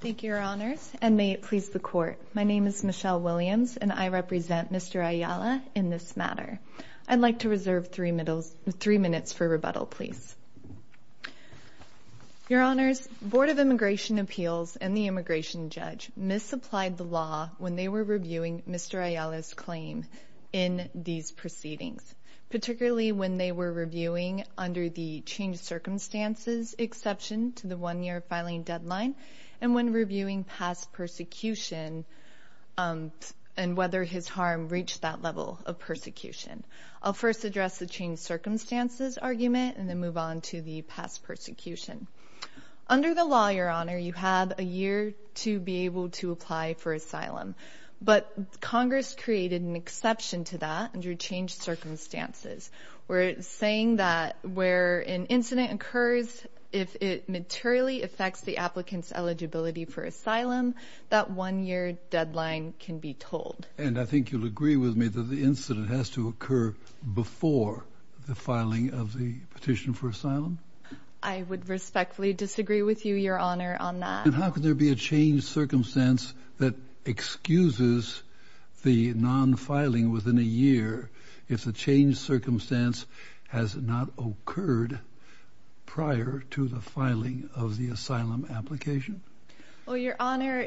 Thank you, Your Honors, and may it please the Court. My name is Michelle Williams, and I represent Mr. Ayala in this matter. I'd like to reserve three minutes for rebuttal, please. Your Honors, Board of Immigration Appeals and the Immigration Judge misapplied the law when they were reviewing Mr. Ayala's claim in these proceedings, particularly when they were reviewing under the changed circumstances exception to the one-year filing deadline and when reviewing past persecution and whether his harm reached that level of persecution. I'll first address the changed circumstances argument and then move on to the past persecution. Under the law, Your Honor, you have a year to be able to apply for asylum, but Congress created an exception to that under changed circumstances, where it's saying that where an incident occurs, if it materially affects the applicant's eligibility for asylum, that one-year deadline can be told. And I think you'll agree with me that the incident has to occur before the filing of the petition for asylum? I would respectfully disagree with you, Your Honor, on that. And how could there be a changed circumstance that excuses the non-filing within a year if the changed circumstance has not occurred prior to the filing of the asylum application? Well, Your Honor,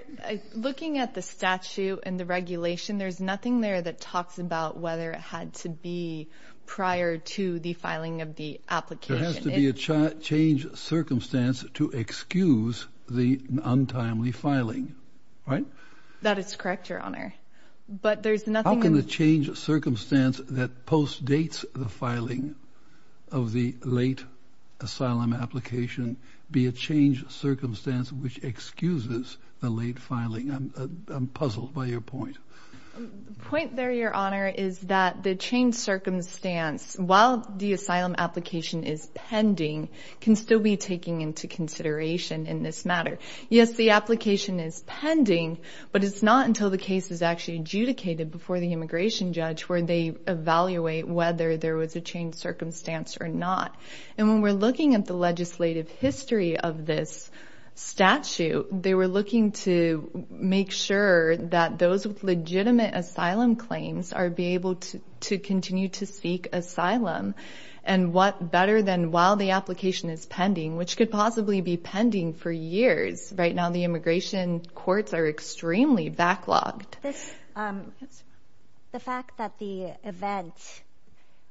looking at the statute and the regulation, there's nothing there that talks about whether it had to be prior to the filing of the application. There has to be a changed circumstance to excuse the untimely filing, right? That is correct, Your Honor. But there's nothing... How can the changed circumstance that postdates the filing of the late asylum application be a changed circumstance which excuses the late filing? I'm puzzled by your point. Point there, Your Honor, is that the changed circumstance, while the asylum application is pending, can still be taken into consideration in this matter. Yes, the application is pending, but it's not until the case is actually adjudicated before the immigration judge where they evaluate whether there was a changed circumstance or not. And when we're looking at the legislative history of this statute, they were looking to make sure that those with legitimate asylum claims are able to continue to seek asylum and what better than while the application is pending, which could possibly be pending for years. Right now, the immigration courts are extremely backlogged. The fact that the event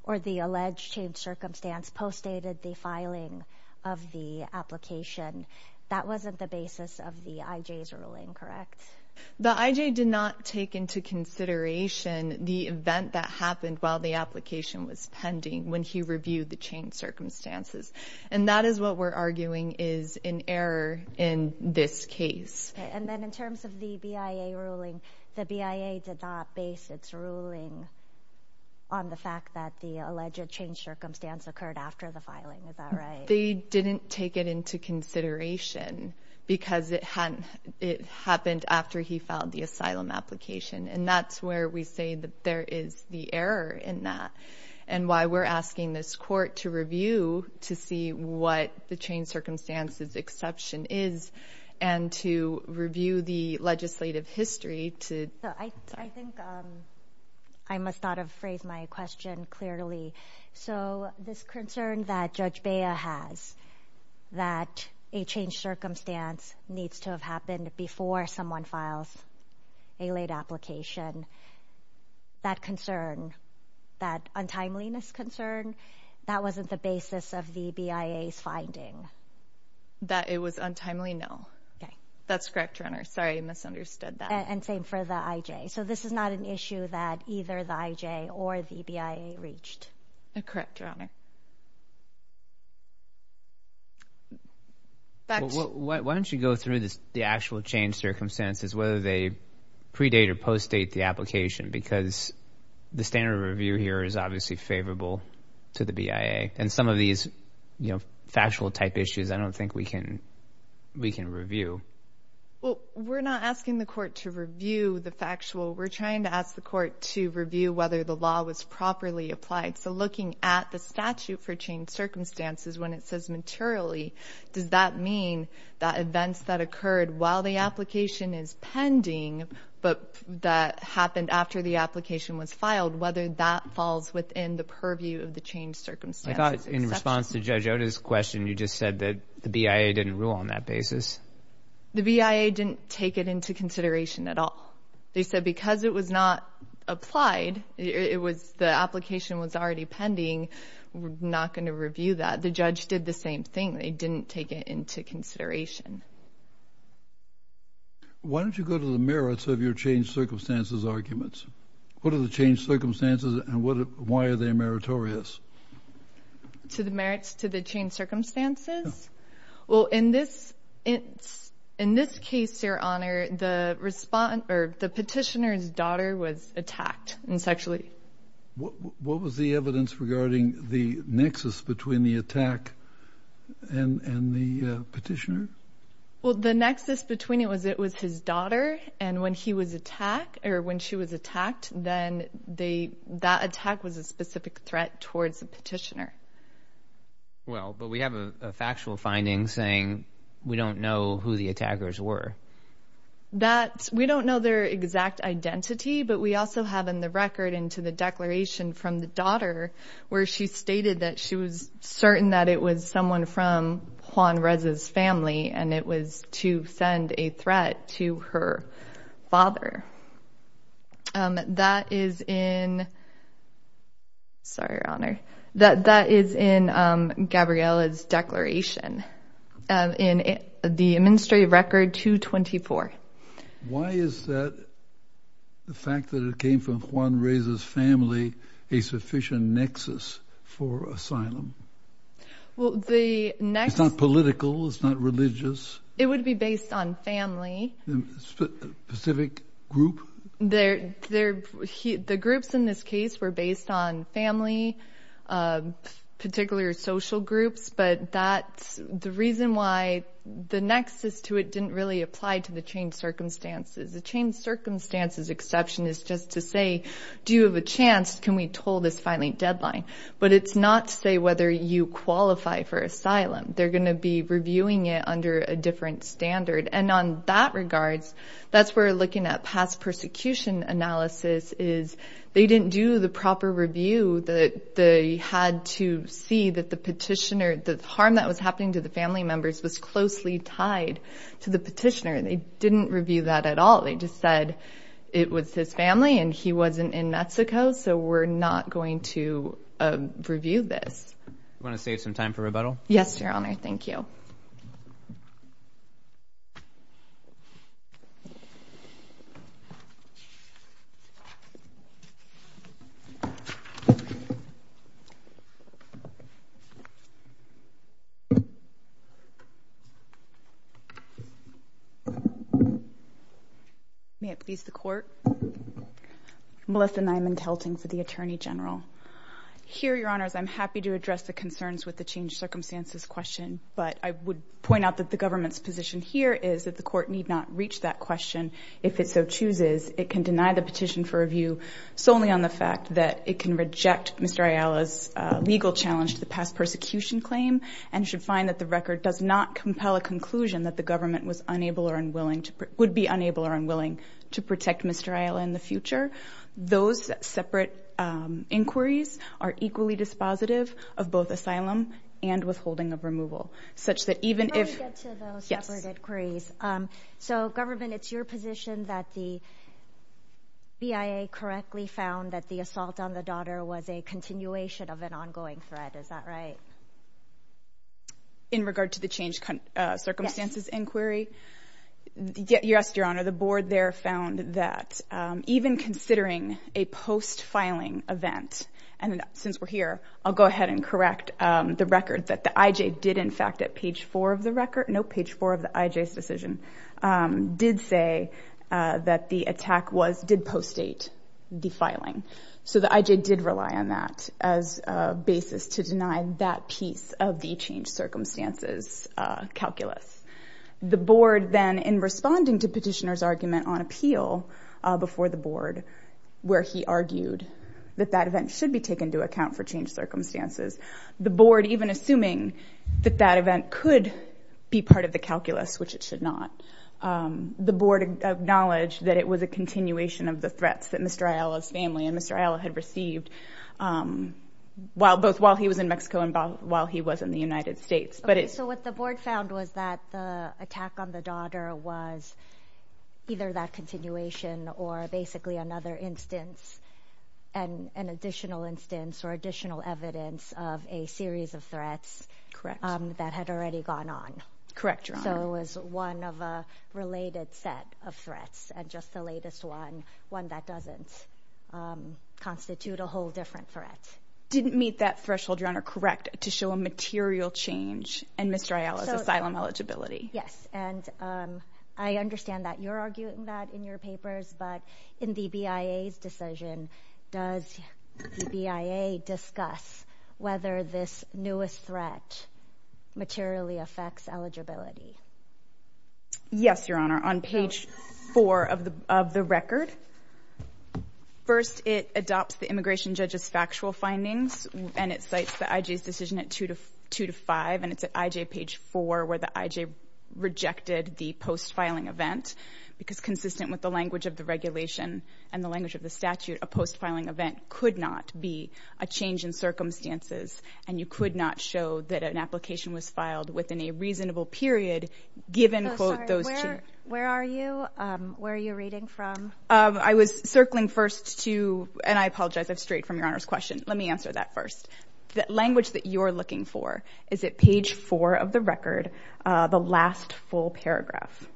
or the alleged changed circumstance postdated the filing of the application, that wasn't the basis of the IJ's ruling, correct? The IJ did not take into consideration the event that happened while the application was pending when he reviewed the changed circumstances. And that is what we're arguing is an error in this case. And then in terms of the BIA ruling, the BIA did not base its ruling on the fact that the alleged changed circumstance occurred after the filing, is that right? They didn't take it into consideration because it happened after he filed the asylum application. And that's where we say that there is the error in that. And why we're asking this court to review to see what the changed circumstances exception is and to review the legislative history to... I think I must not have phrased my question clearly. So this concern that Judge BIA has that a changed circumstance needs to have happened before someone files a late application, that concern, that untimeliness concern, that wasn't the basis of the BIA's finding. That it was untimely? No. Okay. That's correct, Your Honor. Sorry, I misunderstood that. And same for the IJ. So this is not an issue that either the IJ or the BIA reached. Correct, Your Honor. Why don't you go through the actual changed circumstances, whether they predate or post-date the application, because the standard of review here is obviously favorable to the BIA. And some of these factual type issues, I don't think we can review. We're not asking the court to review the factual. We're trying to ask the court to review whether the law was properly applied. So looking at the statute for changed circumstances, when it says materially, does that mean that events that occurred while the application is pending, but that happened after the application was filed, whether that falls within the purview of the changed circumstances? I thought in response to Judge Oda's question, you just said that the BIA didn't rule on that basis. The BIA didn't take it into consideration at all. They said because it was not applied, the application was already pending, we're not going to review that. The judge did the same thing. They didn't take it into consideration. Why don't you go to the merits of your changed circumstances arguments? What are the changed circumstances and why are they meritorious? To the merits to the changed circumstances? Well, in this case, Your Honor, the petitioner's daughter was attacked and sexually. What was the evidence regarding the nexus between the attack and the petitioner? Well, the nexus between it was it was his daughter. And when he was attacked or when she was attacked, then that attack was a specific threat towards the petitioner. Well, but we have a factual finding saying we don't know who the attackers were. We don't know their exact identity, but we also have in the record into the declaration from the daughter where she stated that she was certain that it was someone from Juan Reza's family and it was to send a threat to her father. That is in, sorry, Your Honor, that that is in Gabriela's declaration in the Administrative Record 224. Why is that the fact that it came from Juan Reza's family a sufficient nexus for asylum? Well, the nexus. It's not political. It's not religious. It would be based on family. A specific group? The groups in this case were based on family, particular social groups. But that's the reason why the nexus to it didn't really apply to the changed circumstances. The changed circumstances exception is just to say, do you have a chance? Can we toll this filing deadline? But it's not to say whether you qualify for asylum. They're going to be reviewing it under a different standard. And on that regards, that's where looking at past persecution analysis is, they didn't do the proper review that they had to see that the petitioner, the harm that was happening to the family members was closely tied to the petitioner. They didn't review that at all. They just said it was his family and he wasn't in Mexico. So we're not going to review this. You want to save some time for rebuttal? Yes, Your Honor. Thank you. May it please the Court? Melissa Nyman-Telting for the Attorney General. Here, Your Honors, I'm happy to address the concerns with the changed circumstances question, but I would point out that the government's position here is that the Court need not reach that question if it so chooses. It can deny the petition for review solely on the fact that it can reject Mr. Ayala's legal challenge to the past persecution claim and should find that the record does not compel a conclusion that the government was unable or unwilling to, would be unable or unwilling to protect Mr. Ayala in the future. Those separate inquiries are equally dispositive of both asylum and withholding of removal, such that even if- Let me get to those separate inquiries. So government, it's your position that the BIA correctly found that the assault on the daughter was a continuation of an ongoing threat, is that right? In regard to the changed circumstances inquiry? Yes. Yes, Your Honor, the board there found that even considering a post-filing event, and since we're here, I'll go ahead and correct the record that the IJ did, in fact, at page four of the record, no, page four of the IJ's decision, did say that the attack was, did post-date the filing. So the IJ did rely on that as a basis to deny that piece of the changed circumstances calculus. The board then, in responding to petitioner's argument on appeal before the board, where he argued that that event should be taken into account for changed circumstances, the board, even assuming that that event could be part of the calculus, which it should not, the board acknowledged that it was a continuation of the threats that Mr. Ayala's family and Mr. Ayala had received while, both while he was in Mexico and while he was in the United States. Okay, so what the board found was that the attack on the daughter was either that continuation or basically another instance, an additional instance or additional evidence of a series of threats that had already gone on. Correct, Your Honor. So it was one of a related set of threats, and just the latest one, one that doesn't constitute a whole different threat. Didn't meet that threshold, Your Honor, correct, to show a material change in Mr. Ayala's asylum eligibility. Yes, and I understand that you're arguing that in your papers, but in the BIA's decision, does the BIA discuss whether this newest threat materially affects eligibility? Yes, Your Honor. On page four of the record, first it adopts the immigration judge's factual findings and it cites the IJ's decision at two to five, and it's at IJ page four where the IJ rejected the post-filing event because consistent with the language of the regulation and the language of the statute, a post-filing event could not be a change in circumstances, and you could not show that an application was filed within a reasonable period given, quote, those conditions. Where are you? Where are you reading from? I was circling first to, and I apologize, I'm straight from Your Honor's question. Let me answer that first. The language that you're looking for, is it page four of the record, the last full paragraph?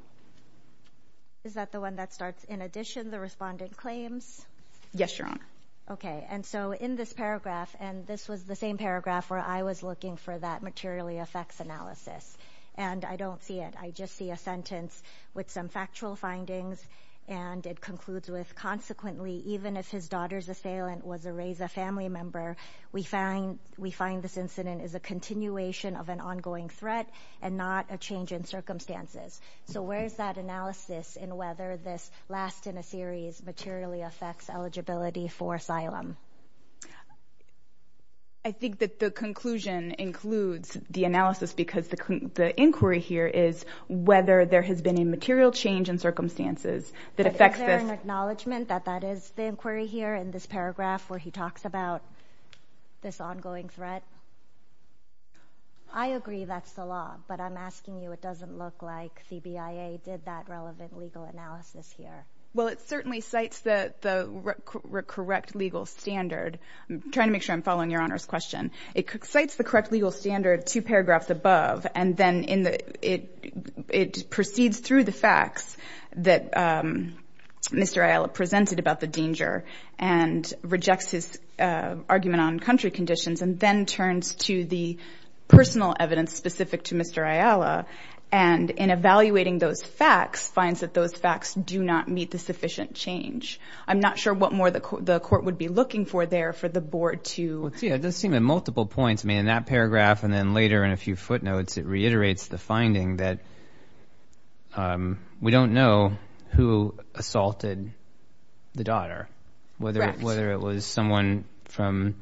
Is that the one that starts, in addition, the respondent claims? Yes, Your Honor. Okay, and so in this paragraph, and this was the same paragraph where I was looking for that materially affects analysis, and I don't see it. I just see a sentence with some factual findings, and it concludes with, consequently, even if his daughter's assailant was a RAISA family member, we find this incident is a continuation of an ongoing threat and not a change in circumstances. So where's that analysis in whether this last in a series materially affects eligibility for asylum? I think that the conclusion includes the analysis because the inquiry here is whether there has been a material change in circumstances that affects this. Is there an acknowledgment that that is the inquiry here in this paragraph where he talks about this ongoing threat? I agree that's the law, but I'm asking you, it doesn't look like CBIA did that relevant legal analysis here. Well, it certainly cites the correct legal standard. I'm trying to make sure I'm following Your Honor's question. It cites the correct legal standard two paragraphs above, and then it proceeds through the facts that Mr. Ayala presented about the danger and rejects his argument on country conditions and then turns to the personal evidence specific to Mr. Ayala, and in evaluating those facts, finds that those facts do not meet the sufficient change. I'm not sure what more the court would be looking for there for the board to... It does seem in multiple points, I mean, in that paragraph and then later in a few footnotes, it reiterates the finding that we don't know who assaulted the daughter, whether it was someone from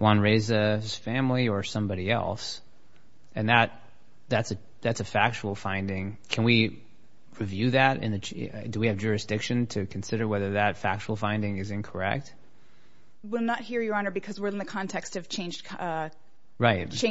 Juan Reza's family or somebody else, and that's a factual finding. Can we review that? Do we have jurisdiction to consider whether that factual finding is incorrect? We're not here, Your Honor, because we're in the context of changed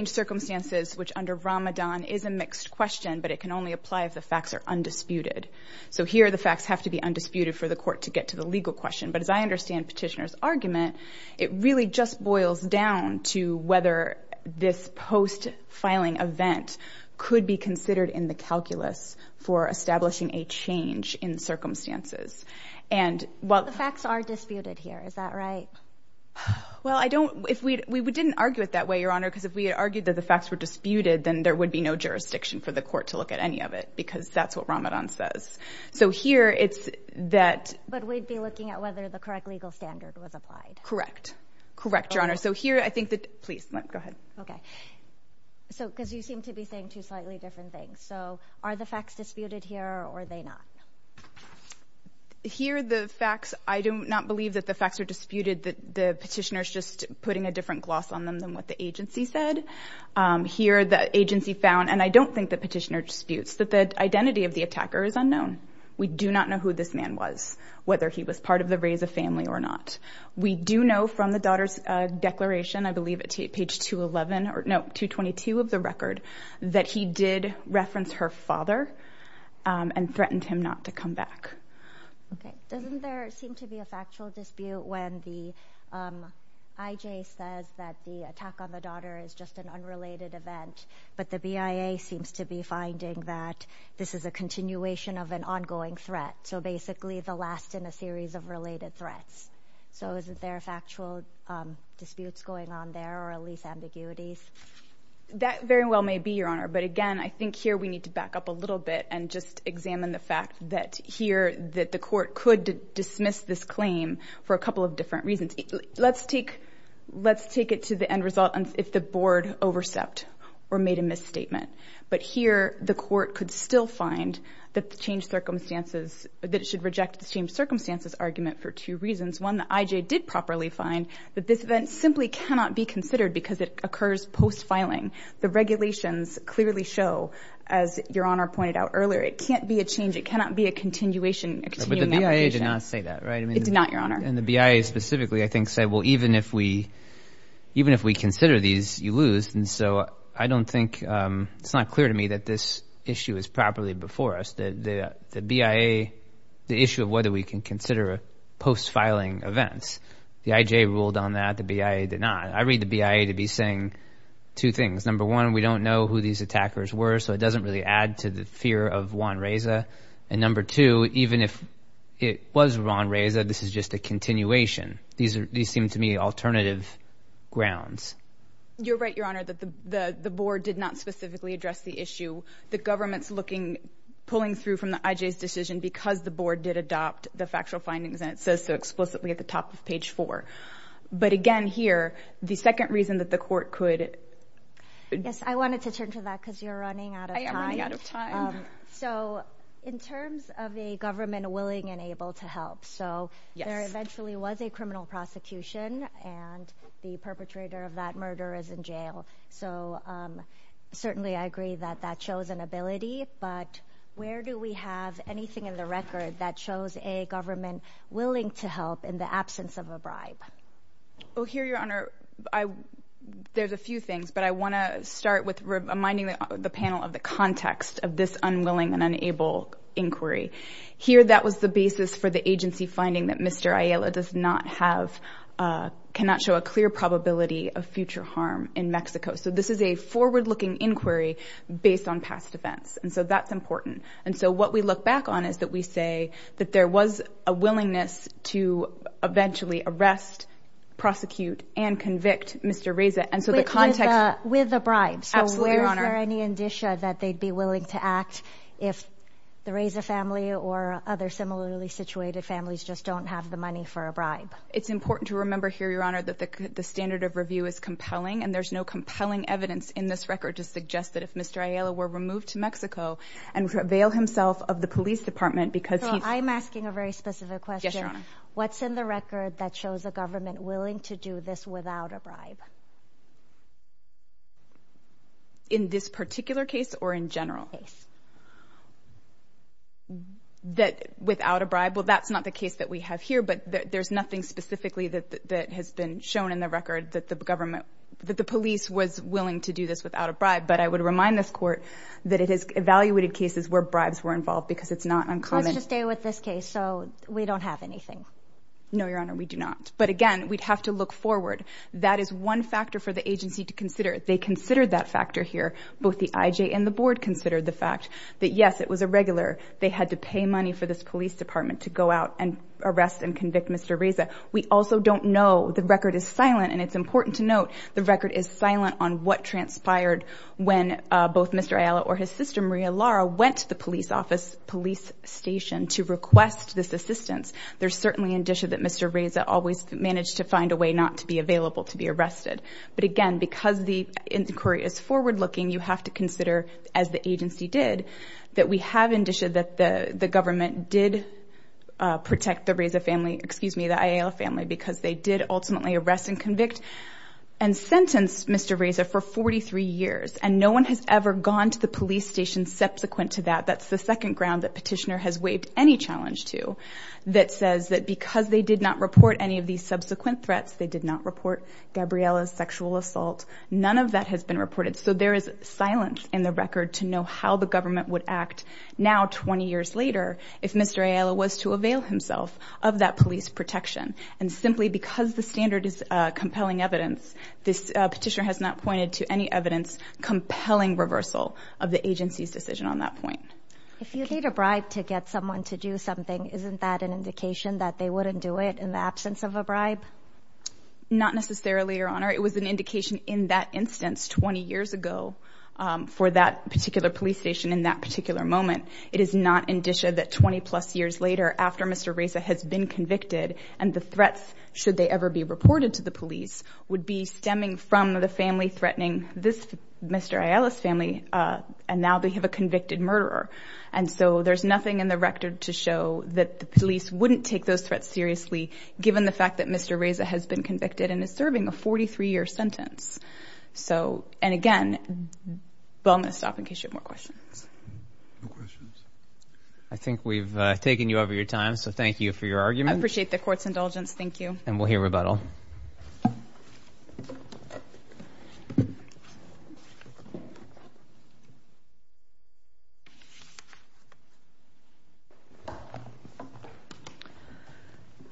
circumstances, which under Ramadan is a mixed question, but it can only apply if the facts are undisputed. So here the facts have to be undisputed for the court to get to the legal question, but as I understand Petitioner's argument, it really just boils down to whether this post-filing event could be considered in the calculus for establishing a change in circumstances. And while... The facts are disputed here. Is that right? Well, I don't... If we... We didn't argue it that way, Your Honor, because if we had argued that the facts were disputed, then there would be no jurisdiction for the court to look at any of it, because that's what Ramadan says. So here it's that... But we'd be looking at whether the correct legal standard was applied. Correct. Correct, Your Honor. So here I think that... Please, go ahead. Okay. So... Because you seem to be saying two slightly different things. So are the facts disputed here or are they not? Here the facts... I do not believe that the facts are disputed, that the Petitioner's just putting a different gloss on them than what the agency said. Here the agency found, and I don't think the Petitioner disputes, that the identity of the attacker is unknown. We do not know who this man was, whether he was part of the Reza family or not. We do know from the daughter's declaration, I believe at page 211, or no, 222 of the record, that he did reference her father and threatened him not to come back. Okay. Doesn't there seem to be a factual dispute when the IJ says that the attack on the daughter is just an unrelated event, but the BIA seems to be finding that this is a continuation of an ongoing threat. So basically the last in a series of related threats. So is there factual disputes going on there or at least ambiguities? That very well may be, Your Honor, but again, I think here we need to back up a little bit and just examine the fact that here, that the court could dismiss this claim for a couple of different reasons. Let's take it to the end result if the board overstepped or made a misstatement. But here the court could still find that it should reject the changed circumstances argument for two reasons. One, the IJ did properly find that this event simply cannot be considered because it occurs post-filing. The regulations clearly show, as Your Honor pointed out earlier, it can't be a change. It cannot be a continuation. A continuing application. But the BIA did not say that, right? It did not, Your Honor. And the BIA specifically, I think, said, well, even if we consider these, you lose. And so I don't think, it's not clear to me that this issue is properly before us. The BIA, the issue of whether we can consider post-filing events. The IJ ruled on that. The BIA did not. I read the BIA to be saying two things. Number one, we don't know who these attackers were, so it doesn't really add to the fear of Juan Reza. And number two, even if it was Juan Reza, this is just a continuation. These seem to me alternative grounds. You're right, Your Honor, that the board did not specifically address the issue. The government's looking, pulling through from the IJ's decision because the board did adopt the factual findings, and it says so explicitly at the top of page four. But again, here, the second reason that the court could. Yes, I wanted to turn to that because you're running out of time. So in terms of a government willing and able to help, so there eventually was a criminal prosecution, and the perpetrator of that murder is in jail. So certainly I agree that that shows an ability, but where do we have anything in the record that shows a government willing to help in the absence of a bribe? Well, here, Your Honor, there's a few things, but I want to start with reminding the panel of the context of this unwilling and unable inquiry. Here that was the basis for the agency finding that Mr. Ayala does not have, cannot show a clear probability of future harm in Mexico. So this is a forward-looking inquiry based on past events, and so that's important. And so what we look back on is that we say that there was a willingness to eventually arrest, prosecute, and convict Mr. Reza, and so the context. With a bribe. Absolutely, Your Honor. Is there any indicia that they'd be willing to act if the Reza family or other similarly situated families just don't have the money for a bribe? It's important to remember here, Your Honor, that the standard of review is compelling, and there's no compelling evidence in this record to suggest that if Mr. Ayala were removed to Mexico and prevail himself of the police department because he's... So I'm asking a very specific question. Yes, Your Honor. What's in the record that shows a government willing to do this without a bribe? In this particular case or in general? In this case. That without a bribe, well, that's not the case that we have here, but there's nothing specifically that has been shown in the record that the police was willing to do this without a bribe. But I would remind this Court that it has evaluated cases where bribes were involved because it's not uncommon. Let's just stay with this case, so we don't have anything. No, Your Honor, we do not. But again, we'd have to look forward. That is one factor for the agency to consider. They considered that factor here. Both the IJ and the board considered the fact that, yes, it was a regular. They had to pay money for this police department to go out and arrest and convict Mr. Reza. We also don't know, the record is silent, and it's important to note the record is silent on what transpired when both Mr. Ayala or his sister Maria Lara went to the police office, police station, to request this assistance. There's certainly indicia that Mr. Reza always managed to find a way not to be available to be arrested. But again, because the inquiry is forward-looking, you have to consider, as the agency did, that we have indicia that the government did protect the Reza family, excuse me, the Ayala family, because they did ultimately arrest and convict and sentence Mr. Reza for 43 years, and no one has ever gone to the police station subsequent to that. That's the second ground that Petitioner has waived any challenge to, that says that because they did not report any of these subsequent threats, they did not report Gabriela's sexual assault, none of that has been reported, so there is silence in the record to know how the government would act now, 20 years later, if Mr. Ayala was to avail himself of that police protection. And simply because the standard is compelling evidence, Petitioner has not pointed to any evidence compelling reversal of the agency's decision on that point. If you need a bribe to get someone to do something, isn't that an indication that they wouldn't do it in the absence of a bribe? Not necessarily, Your Honor. It was an indication in that instance, 20 years ago, for that particular police station in that particular moment. It is not indicia that 20-plus years later, after Mr. Reza has been convicted, and the threats, should they ever be reported to the police, would be stemming from the family threatening this Mr. Ayala's family, and now they have a convicted murderer. And so there's nothing in the record to show that the police wouldn't take those threats seriously, given the fact that Mr. Reza has been convicted and is serving a 43-year sentence. So and again, well, I'm going to stop in case you have more questions. I think we've taken you over your time, so thank you for your argument. I appreciate the Court's indulgence. Thank you. And we'll hear rebuttal.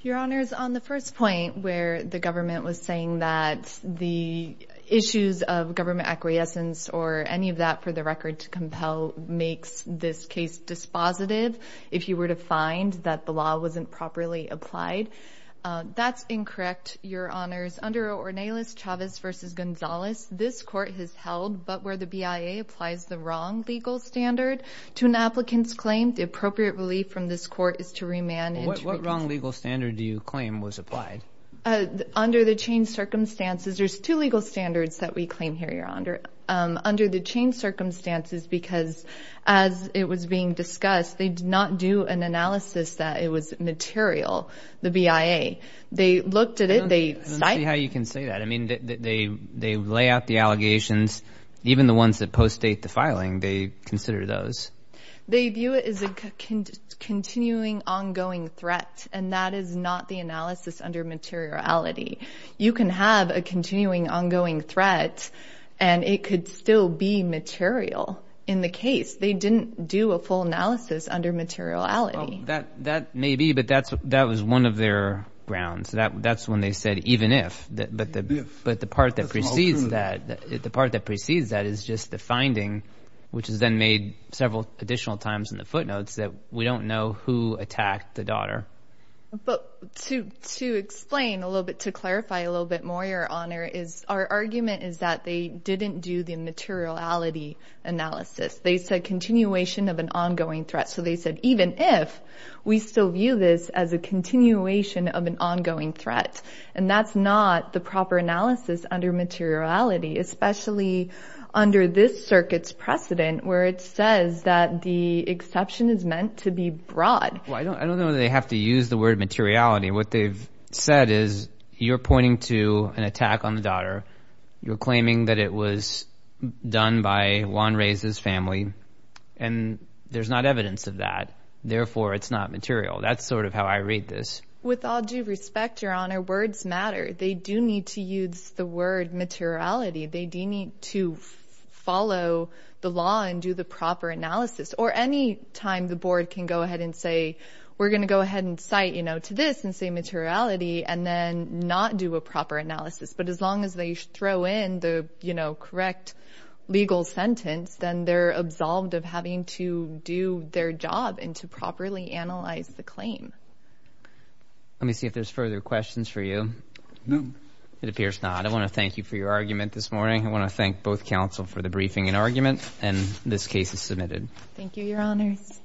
Your Honors, on the first point, where the government was saying that the issues of government acquiescence or any of that, for the record, to compel makes this case dispositive, if your Honor. Your Honors, under Ornelas-Chavez v. Gonzalez, this Court has held, but where the BIA applies the wrong legal standard to an applicant's claim, the appropriate relief from this Court is to remand. What wrong legal standard do you claim was applied? Under the changed circumstances, there's two legal standards that we claim here, Your Honor. Under the changed circumstances, because as it was being discussed, they did not do an analysis that it was material, the BIA. They looked at it, they cited it. I don't see how you can say that. I mean, they lay out the allegations. Even the ones that post-date the filing, they consider those. They view it as a continuing, ongoing threat, and that is not the analysis under materiality. You can have a continuing, ongoing threat, and it could still be material in the case. They didn't do a full analysis under materiality. That may be, but that was one of their grounds. That's when they said, even if. But the part that precedes that is just the finding, which is then made several additional times in the footnotes that we don't know who attacked the daughter. To explain a little bit, to clarify a little bit more, Your Honor, our argument is that they didn't do the materiality analysis. They said continuation of an ongoing threat. So they said, even if we still view this as a continuation of an ongoing threat, and that's not the proper analysis under materiality, especially under this circuit's precedent where it says that the exception is meant to be broad. Well, I don't know that they have to use the word materiality. What they've said is you're pointing to an attack on the daughter. You're claiming that it was done by Juan Reyes's family, and there's not evidence of that. Therefore, it's not material. That's sort of how I read this. With all due respect, Your Honor, words matter. They do need to use the word materiality. They do need to follow the law and do the proper analysis. Or any time the board can go ahead and say, we're going to go ahead and cite, you know, to this and say materiality and then not do a proper analysis. But as long as they throw in the, you know, correct legal sentence, then they're absolved of having to do their job and to properly analyze the claim. Let me see if there's further questions for you. No. It appears not. I want to thank you for your argument this morning. I want to thank both counsel for the briefing and argument, and this case is submitted. Thank you, Your Honors.